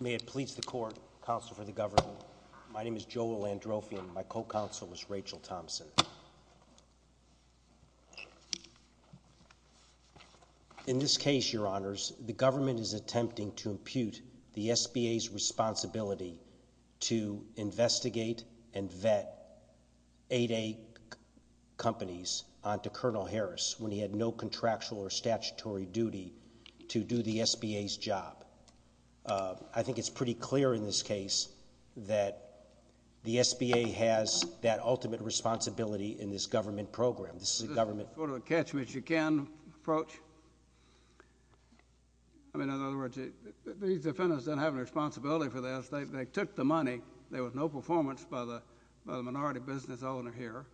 May it please the Court, Counsel for the Governor, my name is Joel Androfian, my co-counsel is to impute the SBA's responsibility to investigate and vet 8A companies onto Col. Harris when he had no contractual or statutory duty to do the SBA's job. I think it's pretty clear in this case that the SBA has that ultimate responsibility in this government program. In other words, these defendants don't have any responsibility for this, they took the money, there was no performance by the minority business owner here,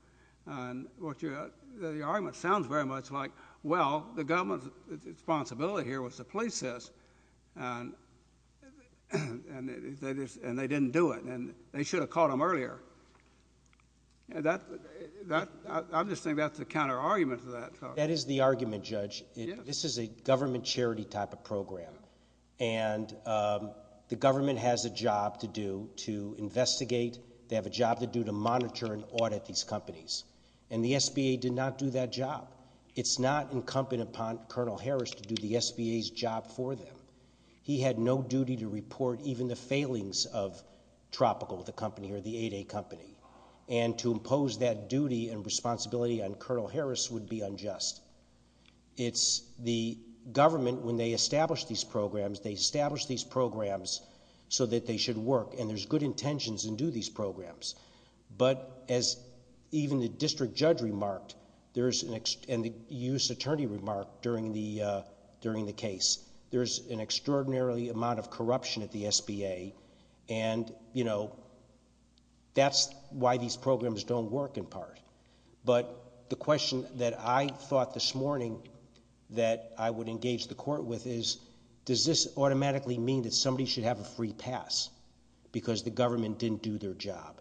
and the argument sounds very much like, well, the government's responsibility here was to police this, and they didn't do it, and they should have caught them earlier. I'm just saying that's the counter-argument to that. That is the argument, Judge. This is a government charity type of program, and the government has a job to do to investigate, they have a job to do to monitor and audit these companies, and the SBA did not do that job. It's not incumbent upon Col. Harris to do the SBA's job for them. He had no duty to report even the failings of Tropical, the company, or the 8A company, and to impose that duty and responsibility on Col. Harris would be unjust. It's the government, when they establish these programs, they establish these programs so that they should work, and there's good intentions to do these programs, but as even the District Judge remarked, and the U.S. Attorney remarked during the case, there's an extraordinary amount of corruption at the SBA, and that's why these programs don't work in part. But the question that I thought this morning that I would engage the court with is, does this automatically mean that somebody should have a free pass because the government didn't do their job?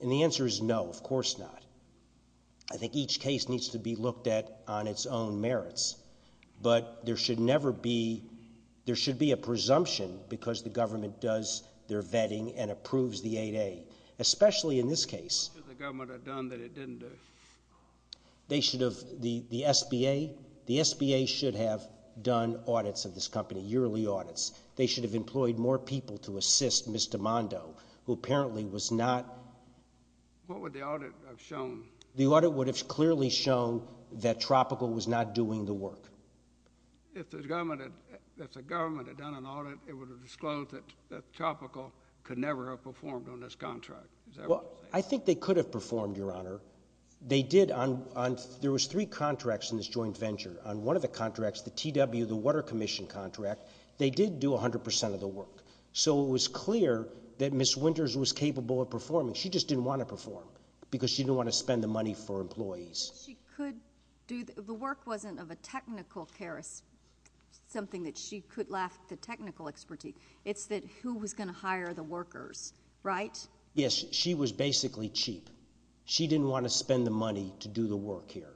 And the answer is no, of course not. I think each case needs to be looked at on its own merits, but there should never be, there should be a presumption because the government does their vetting and approves the 8A, especially in this case. What should the government have done that it didn't do? They should have, the SBA, the SBA should have done audits of this company, yearly audits. They should have employed more people to assist Mr. Mondo, who apparently was not. What would the audit have shown? The audit would have clearly shown that Tropical was not doing the work. If the government had done an audit, it would have disclosed that Tropical could never have performed on this contract. Well, I think they could have performed, Your Honor. They did on, there was three contracts in this joint venture. On one of the contracts, the TW, the Water Commission contract, they did do 100% of the work. So it was clear that Ms. Winters was capable of performing. She just didn't want to perform because she didn't want to spend the money for employees. She could do, the work wasn't of a technical care, something that she could lack the technical expertise. It's that who was going to hire the workers, right? Yes, she was basically cheap. She didn't want to spend the money to do the work here.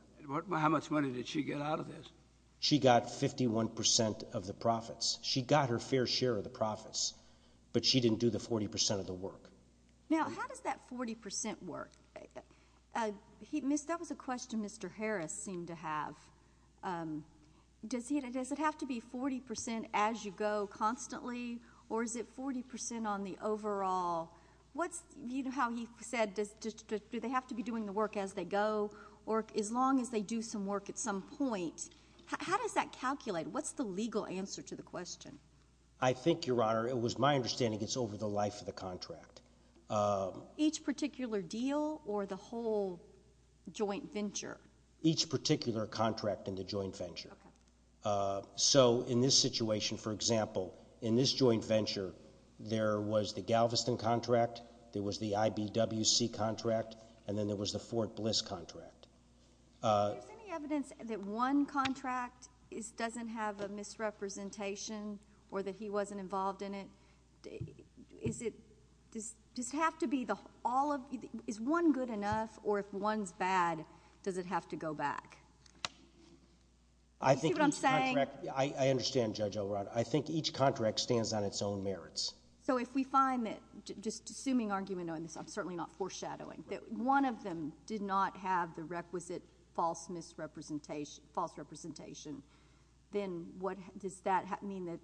How much money did she get out of this? She got 51% of the profits. She got her fair share of the profits, but she didn't do the 40% of the work. Now, how does that 40% work? Miss, that was a question Mr. Harris seemed to have. Does it have to be 40% as you go constantly or is it 40% on the overall? What's, you know how he said, do they have to be doing the work as they go or as long as they do some work at some point? How does that calculate? What's the legal answer to the question? I think, Your Honor, it was my understanding it's over the life of the contract. Each particular deal or the whole joint venture? Each particular contract in the joint venture. So in this situation, for example, in this joint venture, there was the Galveston contract, there was the IBWC contract, and then there was the Fort Bliss contract. Is there any evidence that one contract doesn't have a misrepresentation or that he wasn't involved in it? Is it, does it have to be all of, is one good enough or if one's bad, does it have to go back? Do you see what I'm saying? I think each contract, I understand Judge O'Rourke. I think each contract stands on its own merits. So if we find that, just assuming argument knowing this, I'm certainly not foreshadowing, that one of them did not have the requisite false misrepresentation, false representation, then what, does that mean that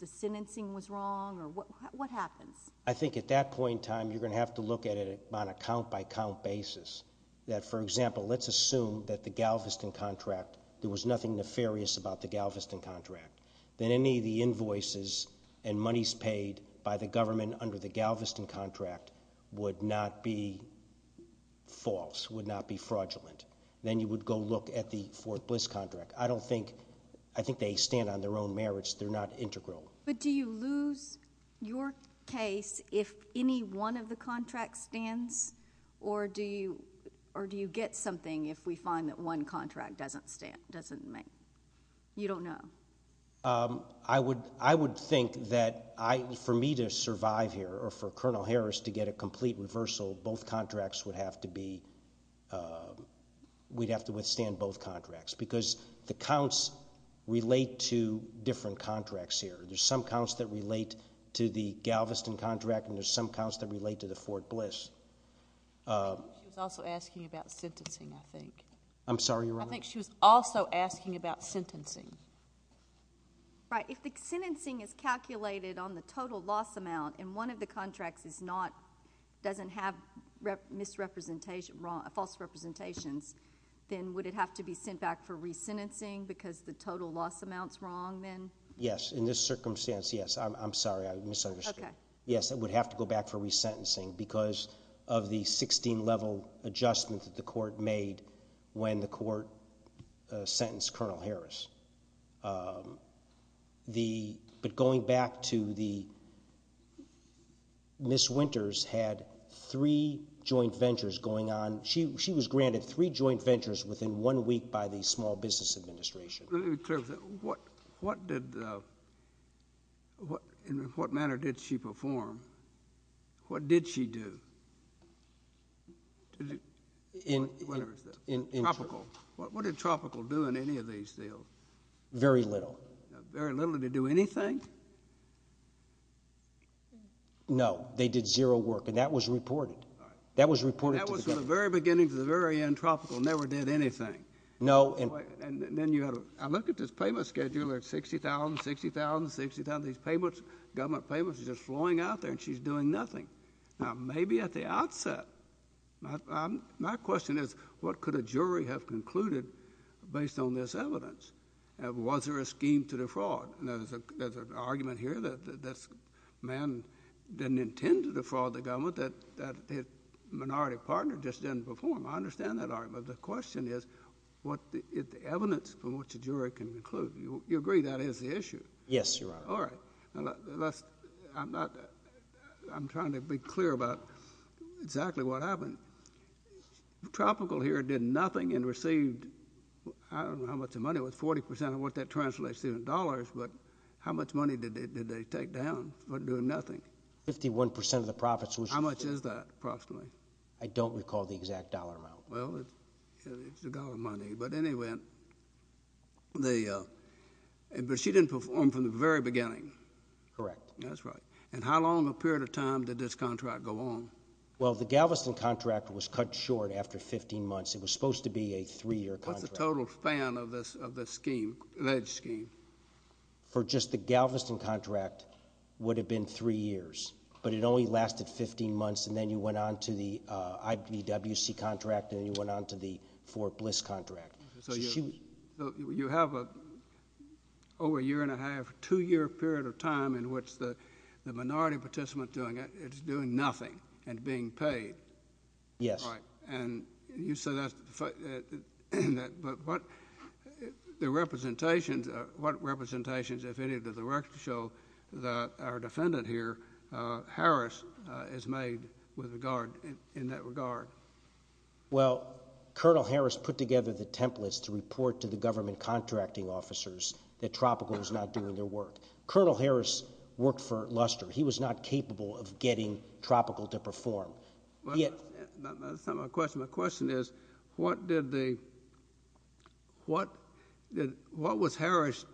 the sentencing was wrong or what happens? I think at that point in time, you're going to have to look at it on a count-by-count basis. That, for example, let's assume that the Galveston contract, there was nothing nefarious about the Galveston contract, that any of the invoices and monies paid by the government under the Galveston contract would not be false, would not be fraudulent. Then you would go look at the Fort Bliss contract. I don't think, I think they stand on their own merits. They're not integral. But do you lose your case if any one of the contracts stands or do you get something if we find that one contract doesn't stand, doesn't make, you don't know? I would think that for me to survive here or for Colonel Harris to get a complete reversal, both contracts would have to be, we'd have to withstand both contracts because the counts relate to different contracts here. There's some counts that relate to the Galveston contract and there's some counts that relate to the Fort Bliss. I think she was also asking about sentencing, I think. I'm sorry, Your Honor? I think she was also asking about sentencing. Right. If the sentencing is calculated on the total loss amount and one of the contracts is not, doesn't have misrepresentation, false representations, then would it have to be sent back for resentencing because the total loss amount's wrong then? Yes. In this circumstance, yes. I'm sorry, I misunderstood. Okay. Yes, it would have to go back for resentencing because of the 16-level adjustment that the court made when the court sentenced Colonel Harris. But going back to the Ms. Winters had three joint ventures going on. She was granted three joint ventures within one week by the Small Business Administration. Let me be clear with that. In what manner did she perform? What did she do? In Tropical. What did Tropical do in any of these deals? Very little. Very little. Did they do anything? No. They did zero work, and that was reported. That was reported to the government. That was from the very beginning to the very end. Tropical never did anything. No. And then you had to look at this payment schedule at $60,000, $60,000, $60,000. These government payments are just flowing out there, and she's doing nothing. Now, maybe at the outset, my question is what could a jury have concluded based on this evidence? Was there a scheme to defraud? There's an argument here that this man didn't intend to defraud the government, that his minority partner just didn't perform. I understand that argument. The question is what is the evidence from which a jury can conclude? You agree that is the issue? Yes, Your Honor. All right. I'm trying to be clear about exactly what happened. Tropical here did nothing and received, I don't know how much the money was, 40% of what that translates to in dollars, but how much money did they take down for doing nothing? Fifty-one percent of the profits. How much is that approximately? I don't recall the exact dollar amount. Well, it's a dollar money. But she didn't perform from the very beginning. Correct. That's right. And how long a period of time did this contract go on? Well, the Galveston contract was cut short after 15 months. It was supposed to be a three-year contract. What's the total span of this scheme, alleged scheme? For just the Galveston contract, it would have been three years, but it only lasted 15 months, and then you went on to the IVWC contract, and then you went on to the Fort Bliss contract. So you have over a year and a half, two-year period of time in which the minority participant is doing nothing and being paid. Yes. All right. And you say that, but what representations, if any, does the record show that our defendant here, Harris, is made in that regard? Well, Colonel Harris put together the templates to report to the government contracting officers that Tropical was not doing their work. Colonel Harris worked for Luster. He was not capable of getting Tropical to perform. Well, that's not my question. My question is, what was Harris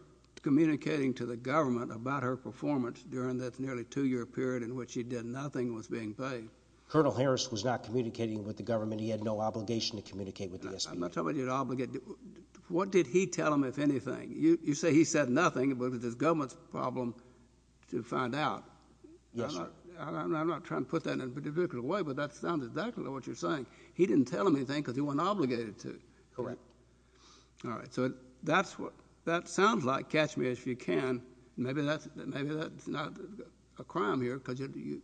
communicating to the government about her performance during that nearly two-year period in which she did nothing and was being paid? Colonel Harris was not communicating with the government. He had no obligation to communicate with the SBA. I'm not talking about obligation. What did he tell them, if anything? You say he said nothing, but it was the government's problem to find out. Yes, sir. I'm not trying to put that in a particular way, but that sounds exactly like what you're saying. He didn't tell them anything because he wasn't obligated to. Correct. All right. So that sounds like, catch me if you can, maybe that's not a crime here because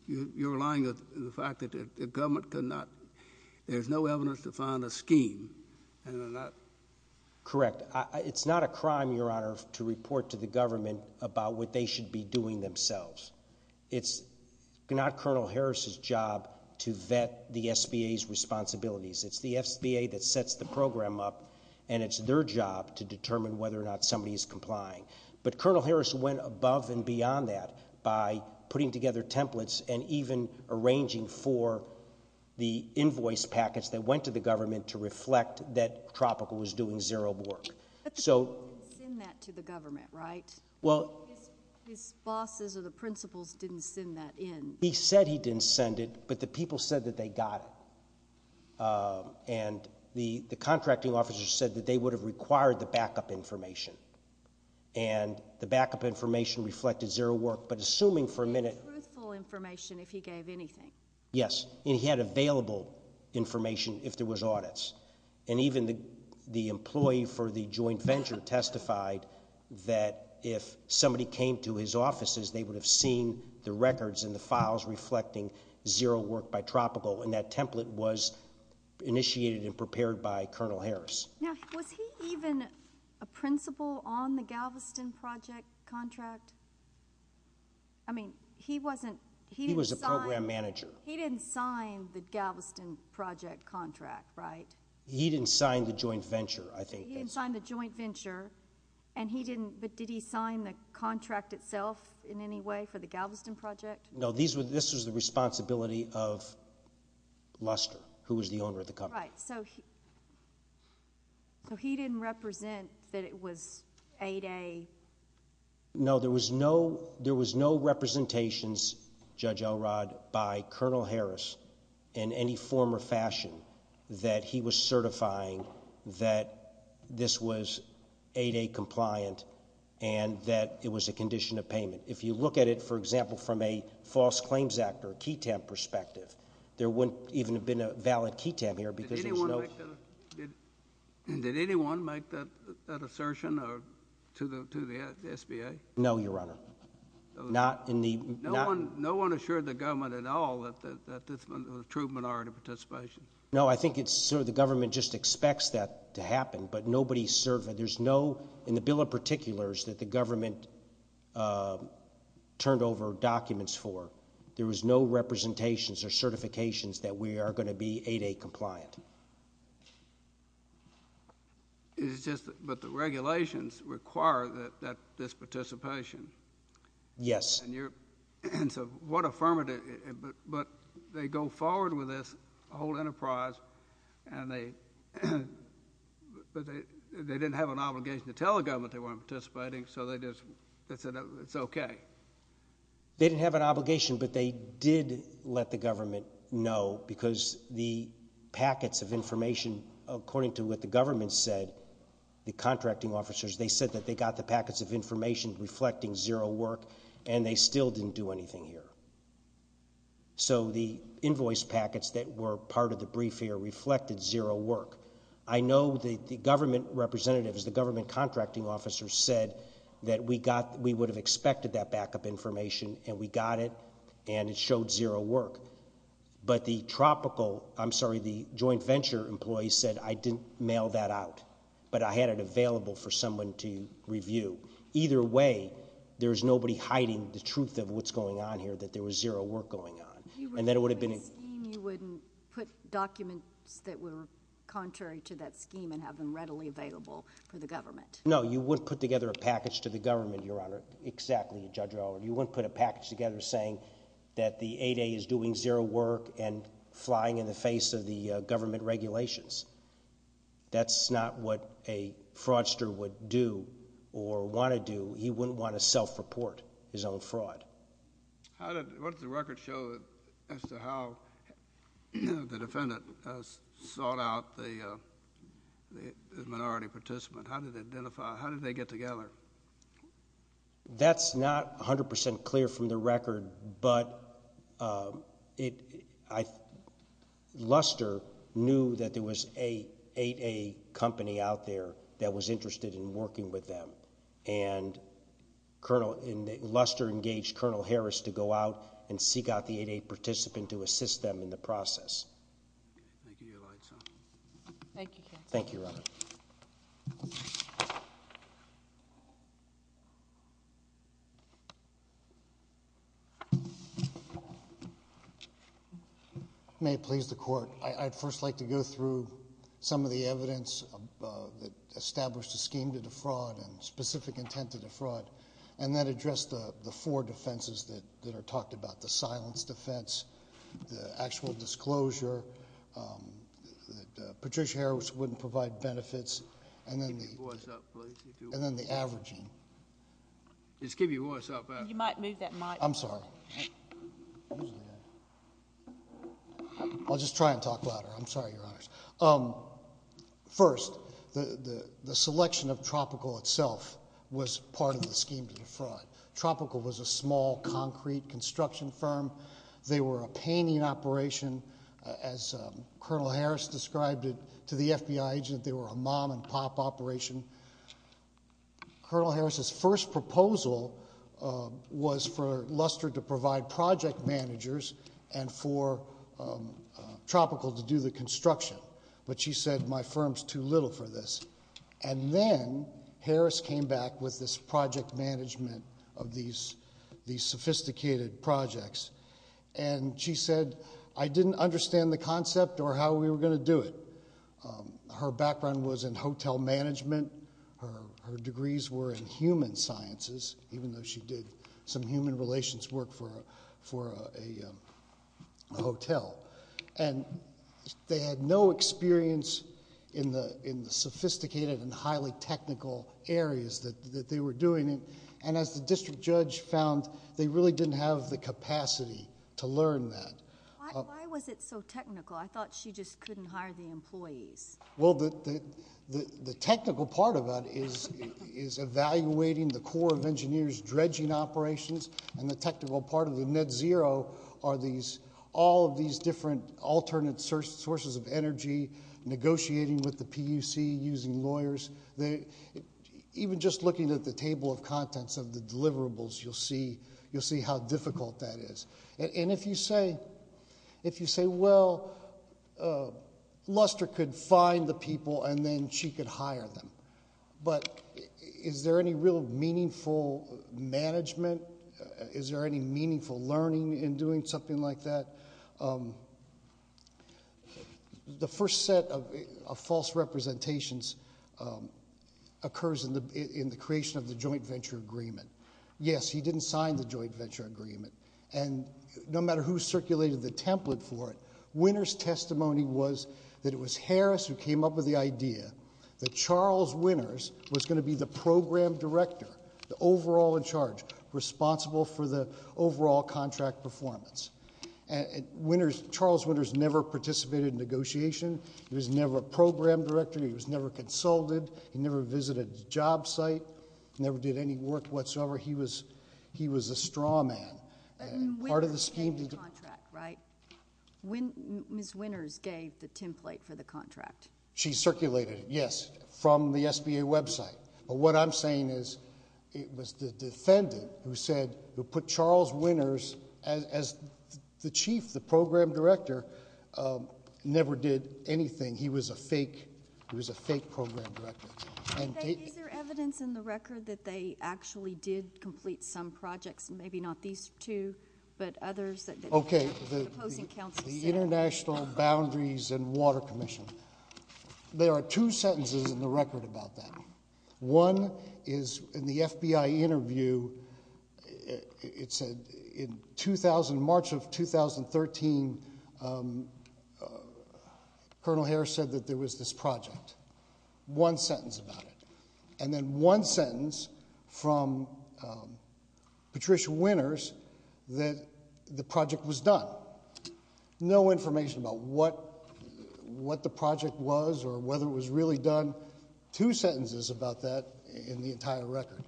you're relying on the fact that the government could not – there's no evidence to find a scheme. Correct. It's not a crime, Your Honor, to report to the government about what they should be doing themselves. It's not Colonel Harris's job to vet the SBA's responsibilities. It's the SBA that sets the program up, and it's their job to determine whether or not somebody is complying. But Colonel Harris went above and beyond that by putting together templates and even arranging for the invoice packets that went to the government to reflect that Tropical was doing zero work. He didn't send that to the government, right? Well – His bosses or the principals didn't send that in. He said he didn't send it, but the people said that they got it. And the contracting officer said that they would have required the backup information, and the backup information reflected zero work. But assuming for a minute – It would be truthful information if he gave anything. Yes. And he had available information if there was audits. And even the employee for the joint venture testified that if somebody came to his offices, they would have seen the records and the files reflecting zero work by Tropical. And that template was initiated and prepared by Colonel Harris. Now, was he even a principal on the Galveston Project contract? I mean, he wasn't – He was a program manager. He didn't sign the Galveston Project contract, right? He didn't sign the joint venture, I think. He didn't sign the joint venture, and he didn't – but did he sign the contract itself in any way for the Galveston Project? No, this was the responsibility of Luster, who was the owner of the company. Right. So he didn't represent that it was 8A – No, there was no representations, Judge Elrod, by Colonel Harris in any form or fashion that he was certifying that this was 8A compliant and that it was a condition of payment. If you look at it, for example, from a false claims act or a key temp perspective, there wouldn't even have been a valid key temp here because there's no – Did anyone make that assertion to the SBA? No, Your Honor. Not in the – No one assured the government at all that this was a true minority participation? No, I think it's – the government just expects that to happen, but nobody – there's no – in the bill of particulars that the government turned over documents for, there was no representations or certifications that we are going to be 8A compliant. It's just that the regulations require this participation. Yes. And so what affirmative – but they go forward with this whole enterprise, and they – but they didn't have an obligation to tell the government they weren't participating, so they just – they said it's okay. They didn't have an obligation, but they did let the government know because the packets of information, according to what the government said, the contracting officers, they said that they got the packets of information reflecting zero work, and they still didn't do anything here. So the invoice packets that were part of the brief here reflected zero work. I know the government representatives, the government contracting officers said that we got – we would have expected that backup information, and we got it, and it showed zero work. But the tropical – I'm sorry, the joint venture employees said I didn't mail that out, but I had it available for someone to review. Either way, there's nobody hiding the truth of what's going on here, that there was zero work going on. You wouldn't put a scheme – you wouldn't put documents that were contrary to that scheme and have them readily available for the government? No, you wouldn't put together a package to the government, Your Honor. Exactly, Judge Howard. You wouldn't put a package together saying that the 8A is doing zero work and flying in the face of the government regulations. That's not what a fraudster would do or want to do. He wouldn't want to self-report his own fraud. How did – what did the record show as to how the defendant sought out the minority participant? How did they identify – how did they get together? That's not 100 percent clear from the record, but Luster knew that there was an 8A company out there that was interested in working with them. And Luster engaged Colonel Harris to go out and seek out the 8A participant to assist them in the process. Thank you, Your Honor. Thank you, counsel. Thank you, Your Honor. May it please the Court. I'd first like to go through some of the evidence that established a scheme to defraud and specific intent to defraud, and then address the four defenses that are talked about, the silence defense, the actual disclosure, that Patricia Harris wouldn't provide benefits, and then the averaging. You might move that mic. I'm sorry. I'll just try and talk louder. I'm sorry, Your Honors. First, the selection of Tropical itself was part of the scheme to defraud. Tropical was a small concrete construction firm. They were a painting operation, as Colonel Harris described it, to the FBI agent. They were a mom-and-pop operation. Colonel Harris's first proposal was for Luster to provide project managers and for Tropical to do the construction. But she said, my firm's too little for this. And then Harris came back with this project management of these sophisticated projects, and she said, I didn't understand the concept or how we were going to do it. Her background was in hotel management. Her degrees were in human sciences, even though she did some human relations work for a hotel. And they had no experience in the sophisticated and highly technical areas that they were doing, and as the district judge found, they really didn't have the capacity to learn that. Why was it so technical? I thought she just couldn't hire the employees. Well, the technical part of it is evaluating the core of engineers' dredging operations, and the technical part of the net zero are all of these different alternate sources of energy, negotiating with the PUC, using lawyers. Even just looking at the table of contents of the deliverables, you'll see how difficult that is. And if you say, well, Luster could find the people and then she could hire them, but is there any real meaningful management? Is there any meaningful learning in doing something like that? The first set of false representations occurs in the creation of the joint venture agreement. Yes, he didn't sign the joint venture agreement. And no matter who circulated the template for it, Winner's testimony was that it was Harris who came up with the idea that Charles Winners was going to be the program director, the overall in charge, responsible for the overall contract performance. Charles Winners never participated in negotiation. He was never a program director. He was never consulted. He never visited a job site. He never did any work whatsoever. He was a straw man. But Winners came to the contract, right? Ms. Winners gave the template for the contract. She circulated it, yes, from the SBA website. But what I'm saying is it was the defendant who said, who put Charles Winners as the chief, the program director, never did anything. He was a fake program director. Is there evidence in the record that they actually did complete some projects, maybe not these two, but others? Okay, the International Boundaries and Water Commission. There are two sentences in the record about that. One is in the FBI interview, it said in 2000, March of 2013, Colonel Harris said that there was this project. One sentence about it. And then one sentence from Patricia Winners that the project was done. No information about what the project was or whether it was really done. Two sentences about that in the entire record.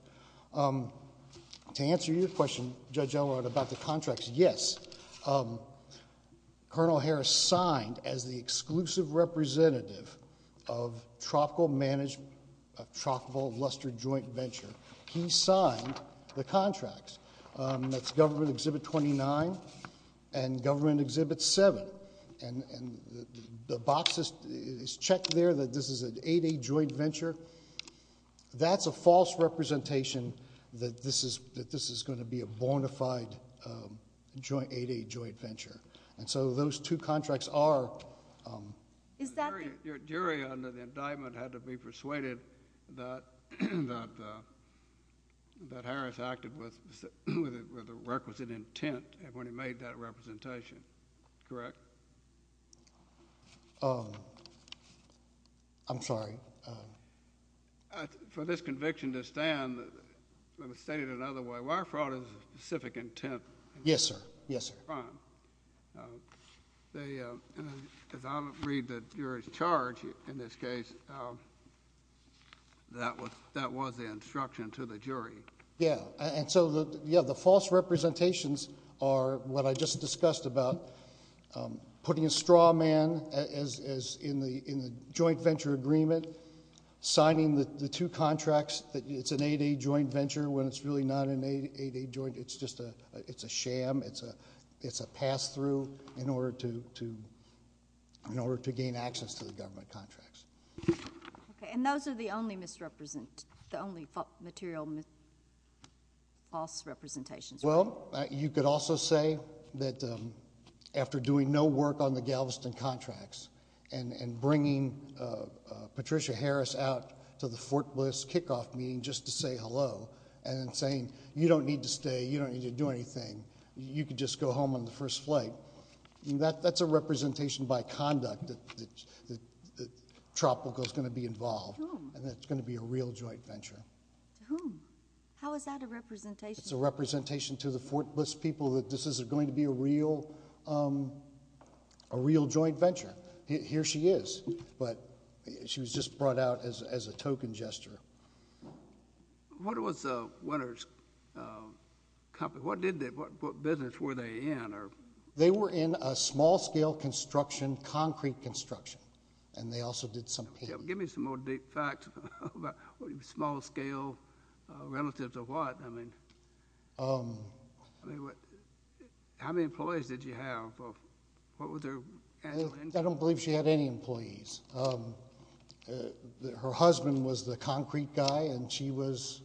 To answer your question, Judge Elrod, about the contracts, yes. Colonel Harris signed as the exclusive representative of Tropical Luster Joint Venture. He signed the contracts. That's Government Exhibit 29 and Government Exhibit 7. And the box is checked there that this is an 8A joint venture. That's a false representation that this is going to be a bona fide 8A joint venture. And so those two contracts are. Your jury under the indictment had to be persuaded that Harris acted with the requisite intent when he made that representation, correct? I'm sorry. For this conviction to stand, let me state it another way. Wire fraud is a specific intent. Yes, sir. Yes, sir. As I read the jury's charge in this case, that was the instruction to the jury. And so the false representations are what I just discussed about putting a straw man in the joint venture agreement, signing the two contracts that it's an 8A joint venture when it's really not an 8A joint. It's just a sham. It's a pass-through in order to gain access to the government contracts. And those are the only material false representations. Well, you could also say that after doing no work on the Galveston contracts and bringing Patricia Harris out to the Fort Bliss kickoff meeting just to say hello and saying you don't need to stay, you don't need to do anything, you could just go home on the first flight. That's a representation by conduct that Tropical is going to be involved. To whom? And that it's going to be a real joint venture. To whom? How is that a representation? It's a representation to the Fort Bliss people that this is going to be a real joint venture. Here she is. But she was just brought out as a token jester. What was Winter's company? What business were they in? They were in a small-scale construction, concrete construction, and they also did some painting. Give me some more deep facts about small-scale relative to what. I mean, how many employees did she have? What was her annual income? I don't believe she had any employees. Her husband was the concrete guy, and she was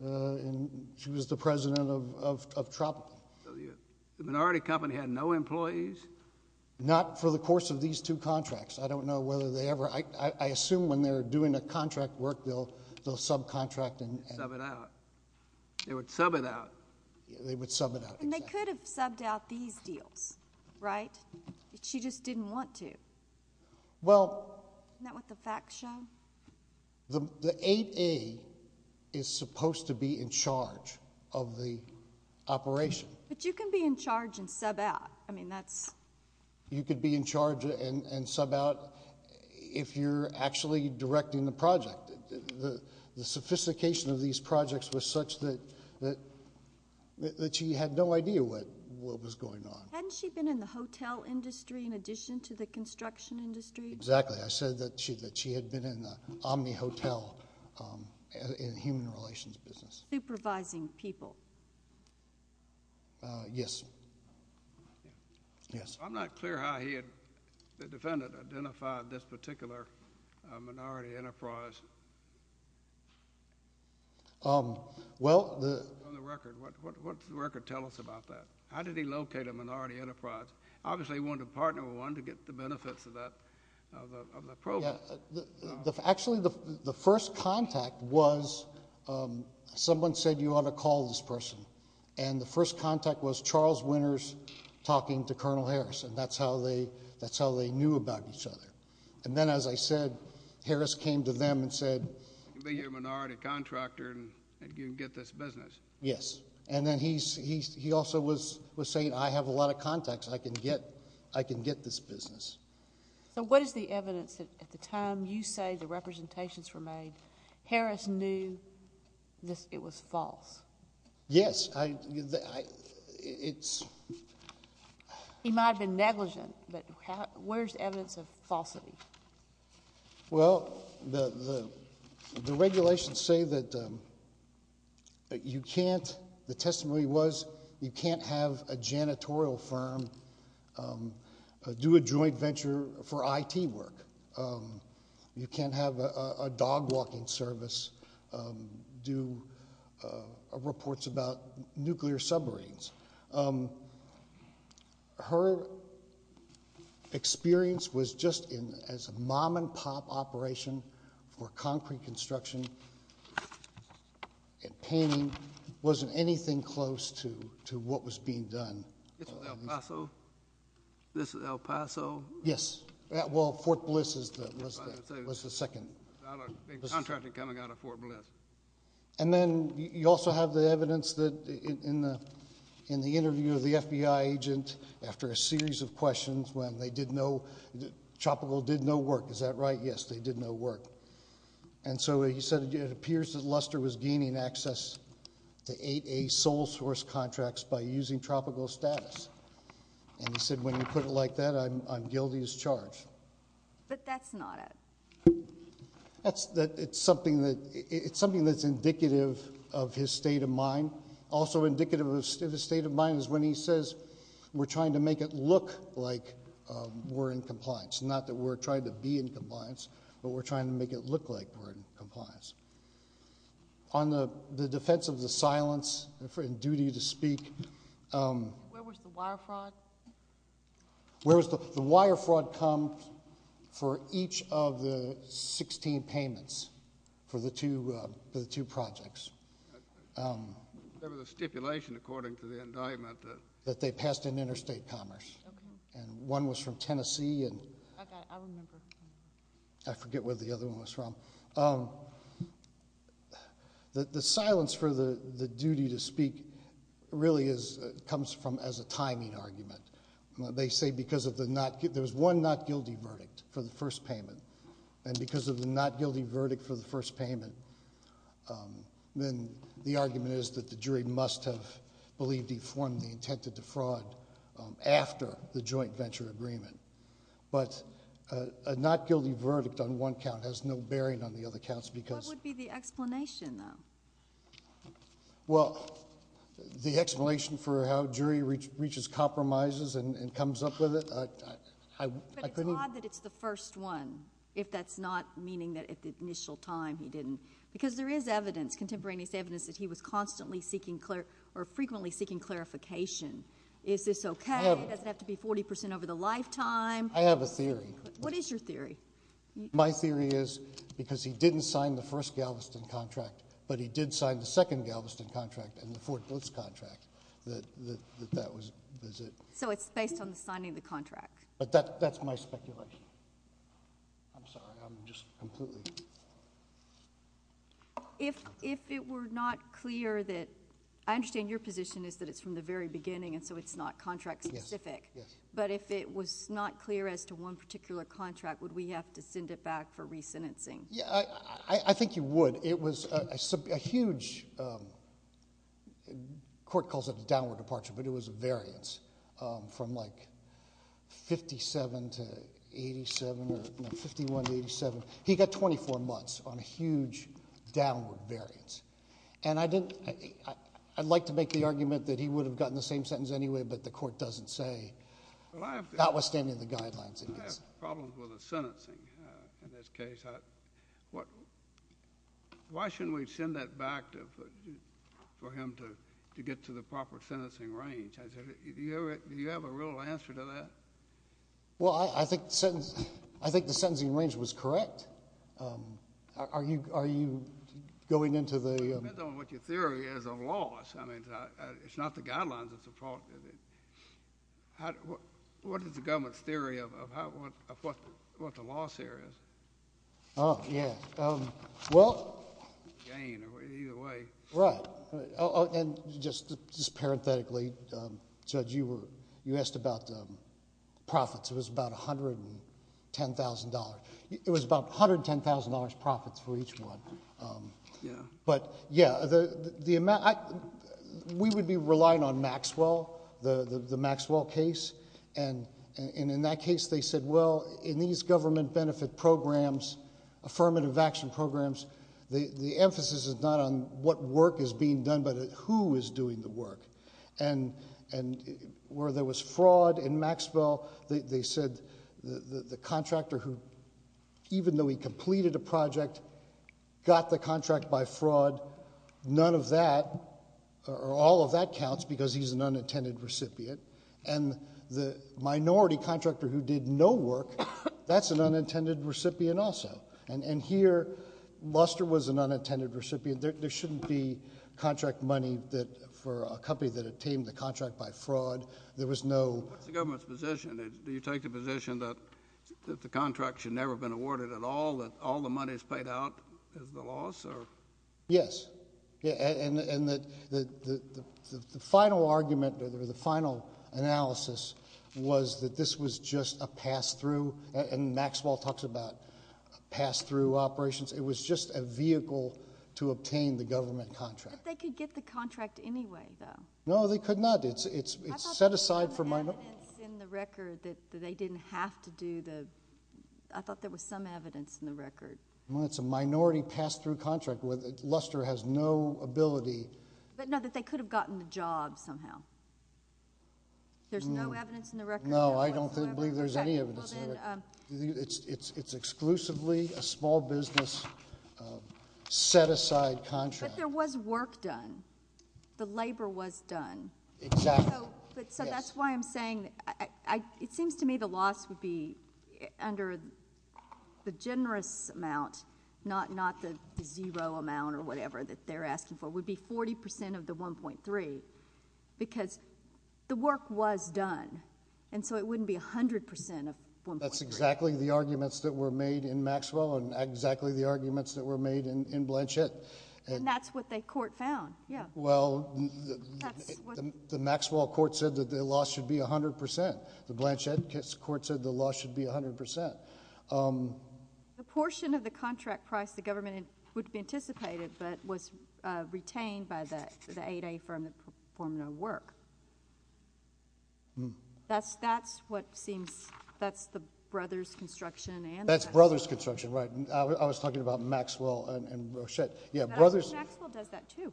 the president of Tropical. The minority company had no employees? Not for the course of these two contracts. I don't know whether they ever. I assume when they're doing a contract work, they'll subcontract and... Sub it out. They would sub it out. They would sub it out, exactly. And they could have subbed out these deals, right? She just didn't want to. Well... Isn't that what the facts show? The 8A is supposed to be in charge of the operation. But you can be in charge and sub out. I mean, that's... You could be in charge and sub out if you're actually directing the project. The sophistication of these projects was such that she had no idea what was going on. Hadn't she been in the hotel industry in addition to the construction industry? Exactly. I said that she had been in the Omni Hotel in the human relations business. Supervising people. Yes. I'm not clear how he had, the defendant, identified this particular minority enterprise. Well... On the record. What does the record tell us about that? How did he locate a minority enterprise? Obviously, he wanted to partner with one to get the benefits of that program. Actually, the first contact was someone said you ought to call this person. And the first contact was Charles Winters talking to Colonel Harris. And that's how they knew about each other. And then, as I said, Harris came to them and said... You can be a minority contractor and you can get this business. Yes. And then he also was saying I have a lot of contacts. I can get this business. So what is the evidence that at the time you say the representations were made, Harris knew it was false? Yes. He might have been negligent, but where's evidence of falsity? Do a joint venture for IT work. You can have a dog walking service do reports about nuclear submarines. Her experience was just as a mom and pop operation for concrete construction and painting, wasn't anything close to what was being done. This is El Paso? Yes. Well, Fort Bliss was the second. A contractor coming out of Fort Bliss. And then you also have the evidence that in the interview of the FBI agent after a series of questions when they did no... Tropical did no work, is that right? Yes, they did no work. And so he said it appears that Luster was gaining access to 8A sole source contracts by using tropical status. And he said when you put it like that, I'm guilty as charged. But that's not it. It's something that's indicative of his state of mind. Also indicative of his state of mind is when he says we're trying to make it look like we're in compliance, not that we're trying to be in compliance, but we're trying to make it look like we're in compliance. On the defense of the silence and duty to speak... Where was the wire fraud? The wire fraud comes for each of the 16 payments for the two projects. There was a stipulation according to the indictment... That they passed in interstate commerce. Okay. And one was from Tennessee... I remember. I forget where the other one was from. The silence for the duty to speak really comes from as a timing argument. They say because of the not guilty... There was one not guilty verdict for the first payment. And because of the not guilty verdict for the first payment, then the argument is that the jury must have believed he formed the intent to defraud after the joint venture agreement. But a not guilty verdict on one count has no bearing on the other counts because... What would be the explanation, though? Well, the explanation for how a jury reaches compromises and comes up with it, I couldn't... Because there is evidence, contemporaneous evidence, that he was constantly seeking or frequently seeking clarification. Is this okay? Does it have to be 40 percent over the lifetime? I have a theory. What is your theory? My theory is because he didn't sign the first Galveston contract, but he did sign the second Galveston contract and the Fort Booth contract, that that was it. So it's based on the signing of the contract. But that's my speculation. I'm sorry, I'm just completely... If it were not clear that... I understand your position is that it's from the very beginning and so it's not contract specific. But if it was not clear as to one particular contract, would we have to send it back for re-sentencing? Yeah, I think you would. But it was a huge, the court calls it a downward departure, but it was a variance from like 57 to 87 or 51 to 87. He got 24 months on a huge downward variance. And I'd like to make the argument that he would have gotten the same sentence anyway, but the court doesn't say... That was standing in the guidelines. I have problems with the sentencing in this case. Why shouldn't we send that back for him to get to the proper sentencing range? Do you have a real answer to that? Well, I think the sentencing range was correct. Are you going into the... It depends on what your theory is of loss. I mean, it's not the guidelines. What is the government's theory of what the loss here is? Oh, yeah. Well... Gain or either way. Right. And just parenthetically, Judge, you asked about profits. It was about $110,000. It was about $110,000 profits for each one. Yeah. But, yeah, we would be relying on Maxwell, the Maxwell case. And in that case, they said, well, in these government benefit programs, affirmative action programs, the emphasis is not on what work is being done but who is doing the work. And where there was fraud in Maxwell, they said the contractor who, even though he completed a project, got the contract by fraud, none of that or all of that counts because he's an unintended recipient. And the minority contractor who did no work, that's an unintended recipient also. And here, Luster was an unintended recipient. There shouldn't be contract money for a company that attained the contract by fraud. There was no... What's the government's position? Do you take the position that the contract should never have been awarded at all, that all the money is paid out as the loss? Yes. And the final argument or the final analysis was that this was just a pass-through. And Maxwell talks about pass-through operations. It was just a vehicle to obtain the government contract. But they could get the contract anyway, though. No, they could not. It's set aside for minority... I thought there was evidence in the record that they didn't have to do the... I thought there was some evidence in the record. Well, it's a minority pass-through contract. Luster has no ability... But, no, that they could have gotten the job somehow. There's no evidence in the record. No, I don't believe there's any evidence in the record. It's exclusively a small business set-aside contract. But there was work done. The labor was done. Exactly. So that's why I'm saying... It seems to me the loss would be under the generous amount, not the zero amount or whatever that they're asking for. It would be 40% of the 1.3, because the work was done. And so it wouldn't be 100% of 1.3. That's exactly the arguments that were made in Maxwell and exactly the arguments that were made in Blanchett. And that's what the court found. Well, the Maxwell court said that the loss should be 100%. The Blanchett court said the loss should be 100%. The portion of the contract price the government would have anticipated but was retained by the 8A firm that performed no work. That's what seems... That's the Brothers construction and... That's Brothers construction, right. I was talking about Maxwell and Blanchett. But Maxwell does that, too.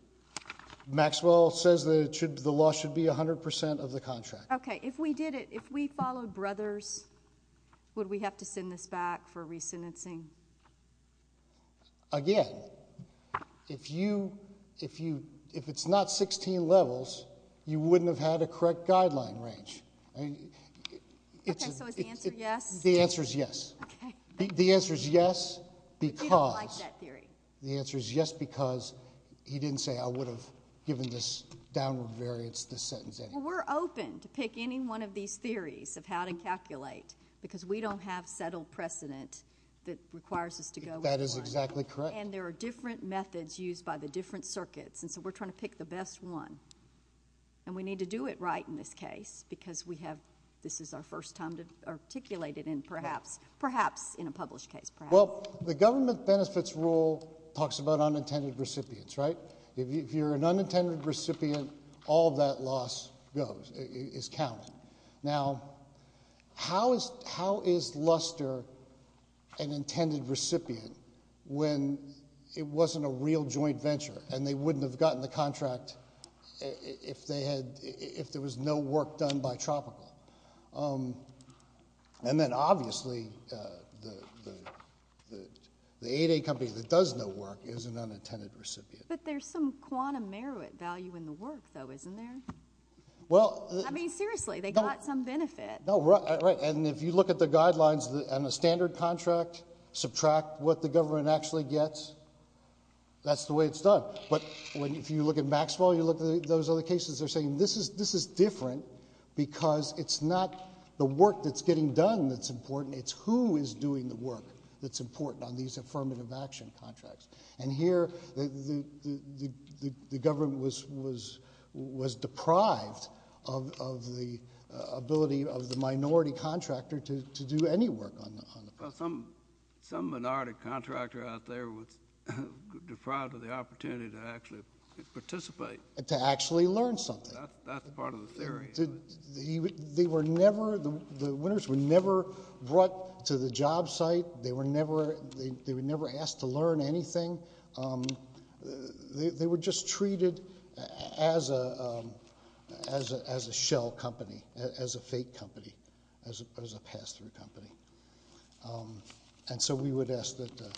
Maxwell says the loss should be 100% of the contract. Okay. If we did it, if we followed Brothers, would we have to send this back for re-sentencing? Again, if it's not 16 levels, you wouldn't have had a correct guideline range. Okay, so is the answer yes? The answer is yes. Okay. The answer is yes because... We don't like that theory. The answer is yes because he didn't say, I would have given this downward variance, this sentence anyway. Well, we're open to pick any one of these theories of how to calculate because we don't have settled precedent that requires us to go with one. That is exactly correct. And there are different methods used by the different circuits, and so we're trying to pick the best one. And we need to do it right in this case because we have... This is our first time to articulate it in perhaps... Perhaps in a published case, perhaps. Well, the government benefits rule talks about unintended recipients, right? If you're an unintended recipient, all that loss is counted. Now, how is Luster an intended recipient when it wasn't a real joint venture and they wouldn't have gotten the contract if there was no work done by Tropical? And then, obviously, the 8A company that does no work is an unintended recipient. But there's some quantum merit value in the work, though, isn't there? Well... I mean, seriously, they got some benefit. Right, and if you look at the guidelines on a standard contract, subtract what the government actually gets, that's the way it's done. But if you look at Maxwell, you look at those other cases, they're saying this is different because it's not the work that's getting done that's important, it's who is doing the work that's important on these affirmative action contracts. And here, the government was deprived of the ability of the minority contractor to do any work on the contract. Well, some minority contractor out there was deprived of the opportunity to actually participate. To actually learn something. That's part of the theory. The winners were never brought to the job site. They were never asked to learn anything. They were just treated as a shell company, as a fake company, as a pass-through company. And so we would ask that the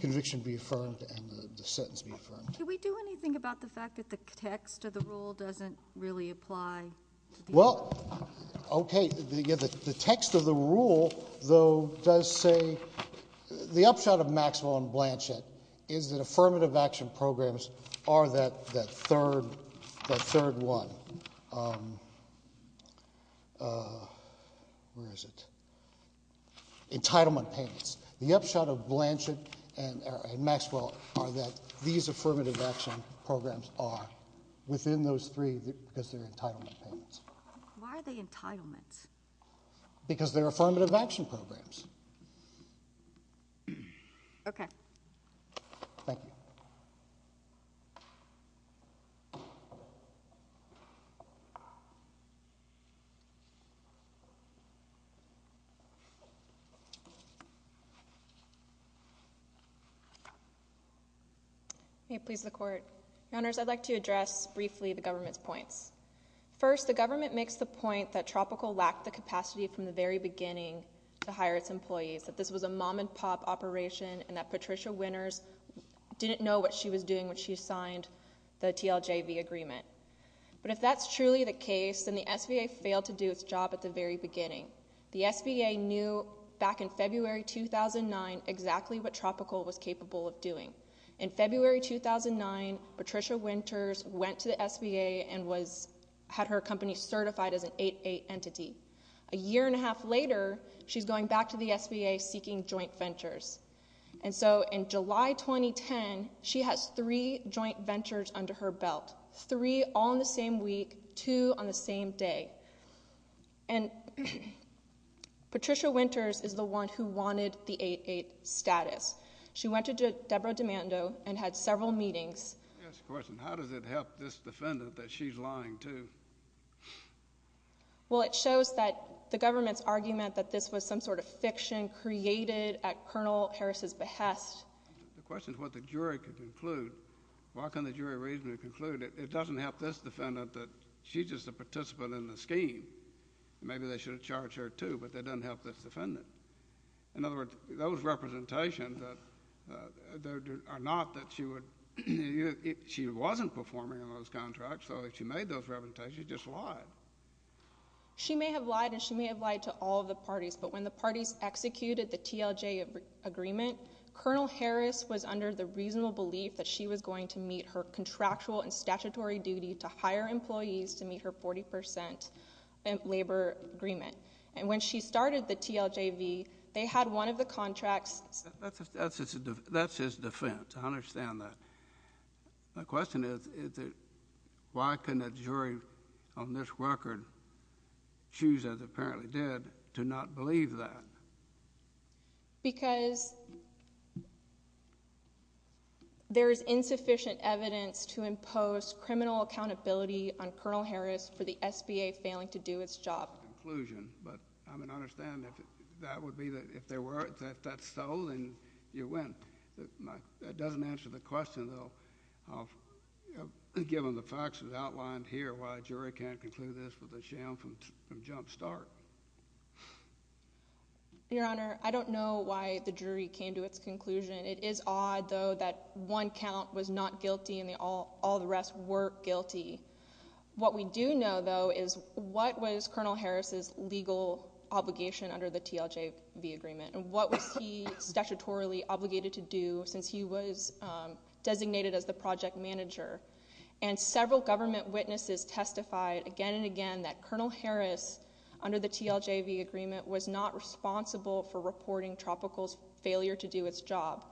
conviction be affirmed and the sentence be affirmed. Can we do anything about the fact that the text of the rule doesn't really apply? Well, okay. The text of the rule, though, does say... The upshot of Maxwell and Blanchett is that affirmative action programs are that third one. Where is it? Entitlement payments. The upshot of Blanchett and Maxwell are that these affirmative action programs are within those three because they're entitlement payments. Why are they entitlements? Because they're affirmative action programs. Okay. Thank you. May it please the Court. Your Honors, I'd like to address briefly the government's points. First, the government makes the point that Tropical lacked the capacity from the very beginning to hire its employees. That this was a mom-and-pop operation and that Patricia Winters didn't know what she was doing when she signed the TLJV agreement. But if that's truly the case, then the SVA failed to do its job at the very beginning. The SVA knew back in February 2009 exactly what Tropical was capable of doing. In February 2009, Patricia Winters went to the SVA and had her company certified as an 8-8 entity. A year and a half later, she's going back to the SVA seeking joint ventures. And so in July 2010, she has three joint ventures under her belt. Three all in the same week, two on the same day. And Patricia Winters is the one who wanted the 8-8 status. She went to Deborah D'Amando and had several meetings. I have a question. How does it help this defendant that she's lying too? Well, it shows that the government's argument that this was some sort of fiction created at Colonel Harris's behest. The question is what the jury can conclude. Why can't the jury reasonably conclude? It doesn't help this defendant that she's just a participant in the scheme. Maybe they should have charged her, too, but that doesn't help this defendant. In other words, those representations are not that she would—she wasn't performing on those contracts. So if she made those representations, she just lied. She may have lied, and she may have lied to all of the parties, but when the parties executed the TLJ agreement, Colonel Harris was under the reasonable belief that she was going to meet her contractual and statutory duty to hire employees to meet her 40 percent labor agreement. And when she started the TLJV, they had one of the contracts— That's his defense. I understand that. My question is why couldn't a jury on this record choose, as it apparently did, to not believe that? Because there is insufficient evidence to impose criminal accountability on Colonel Harris for the SBA failing to do its job. Conclusion. But I mean, I understand that that would be—if that's so, then you win. That doesn't answer the question, though, given the facts that are outlined here, why a jury can't conclude this with a sham from jump start. Your Honor, I don't know why the jury came to its conclusion. It is odd, though, that one count was not guilty and all the rest were guilty. What we do know, though, is what was Colonel Harris's legal obligation under the TLJV agreement, and what was he statutorily obligated to do since he was designated as the project manager? And several government witnesses testified again and again that Colonel Harris, under the TLJV agreement, was not responsible for reporting Tropical's failure to do its job.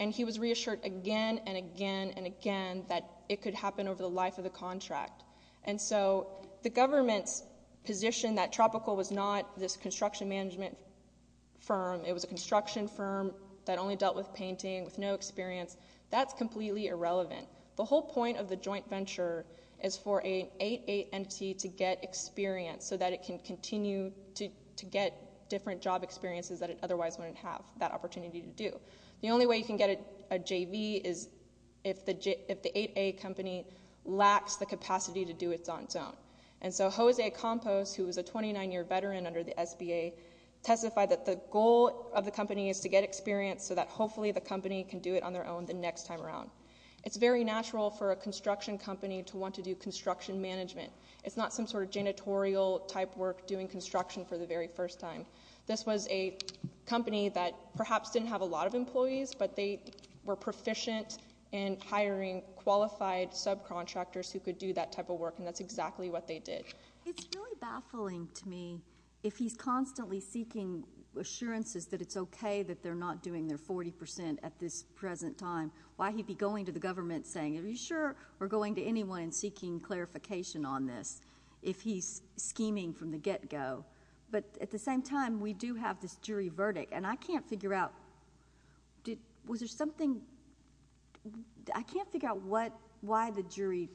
And he was reassured again and again and again that it could happen over the life of the contract. And so the government's position that Tropical was not this construction management firm, it was a construction firm that only dealt with painting, with no experience, that's completely irrelevant. The whole point of the joint venture is for an 8A entity to get experience so that it can continue to get different job experiences that it otherwise wouldn't have that opportunity to do. The only way you can get a JV is if the 8A company lacks the capacity to do it on its own. And so Jose Campos, who was a 29-year veteran under the SBA, testified that the goal of the company is to get experience so that hopefully the company can do it on their own the next time around. It's very natural for a construction company to want to do construction management. It's not some sort of janitorial-type work doing construction for the very first time. This was a company that perhaps didn't have a lot of employees, but they were proficient in hiring qualified subcontractors who could do that type of work, and that's exactly what they did. It's really baffling to me if he's constantly seeking assurances that it's okay that they're not doing their 40% at this present time. Why he'd be going to the government saying, are you sure we're going to anyone and seeking clarification on this if he's scheming from the get-go? But at the same time, we do have this jury verdict, and I can't figure out, was there something? I can't figure out why the jury,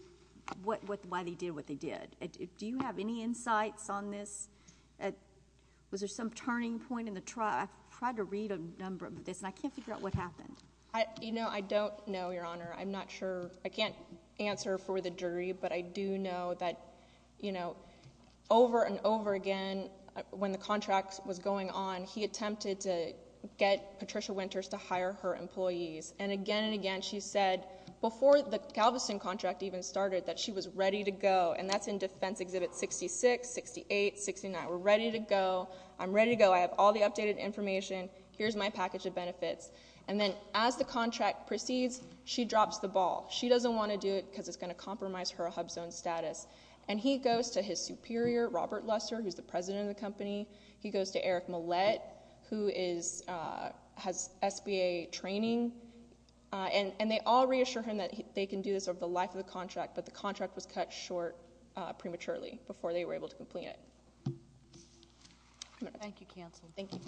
why they did what they did. Do you have any insights on this? Was there some turning point in the trial? I tried to read a number of this, and I can't figure out what happened. I don't know, Your Honor. I'm not sure. I can't answer for the jury, but I do know that over and over again when the contract was going on, he attempted to get Patricia Winters to hire her employees, and again and again she said before the Galveston contract even started that she was ready to go, and that's in Defense Exhibit 66, 68, 69. We're ready to go. I'm ready to go. I have all the updated information. Here's my package of benefits. And then as the contract proceeds, she drops the ball. She doesn't want to do it because it's going to compromise her HUBZone status, and he goes to his superior, Robert Lusser, who's the president of the company. He goes to Eric Millett, who has SBA training, and they all reassure him that they can do this over the life of the contract, but the contract was cut short prematurely before they were able to complete it. Thank you, counsel. Thank you.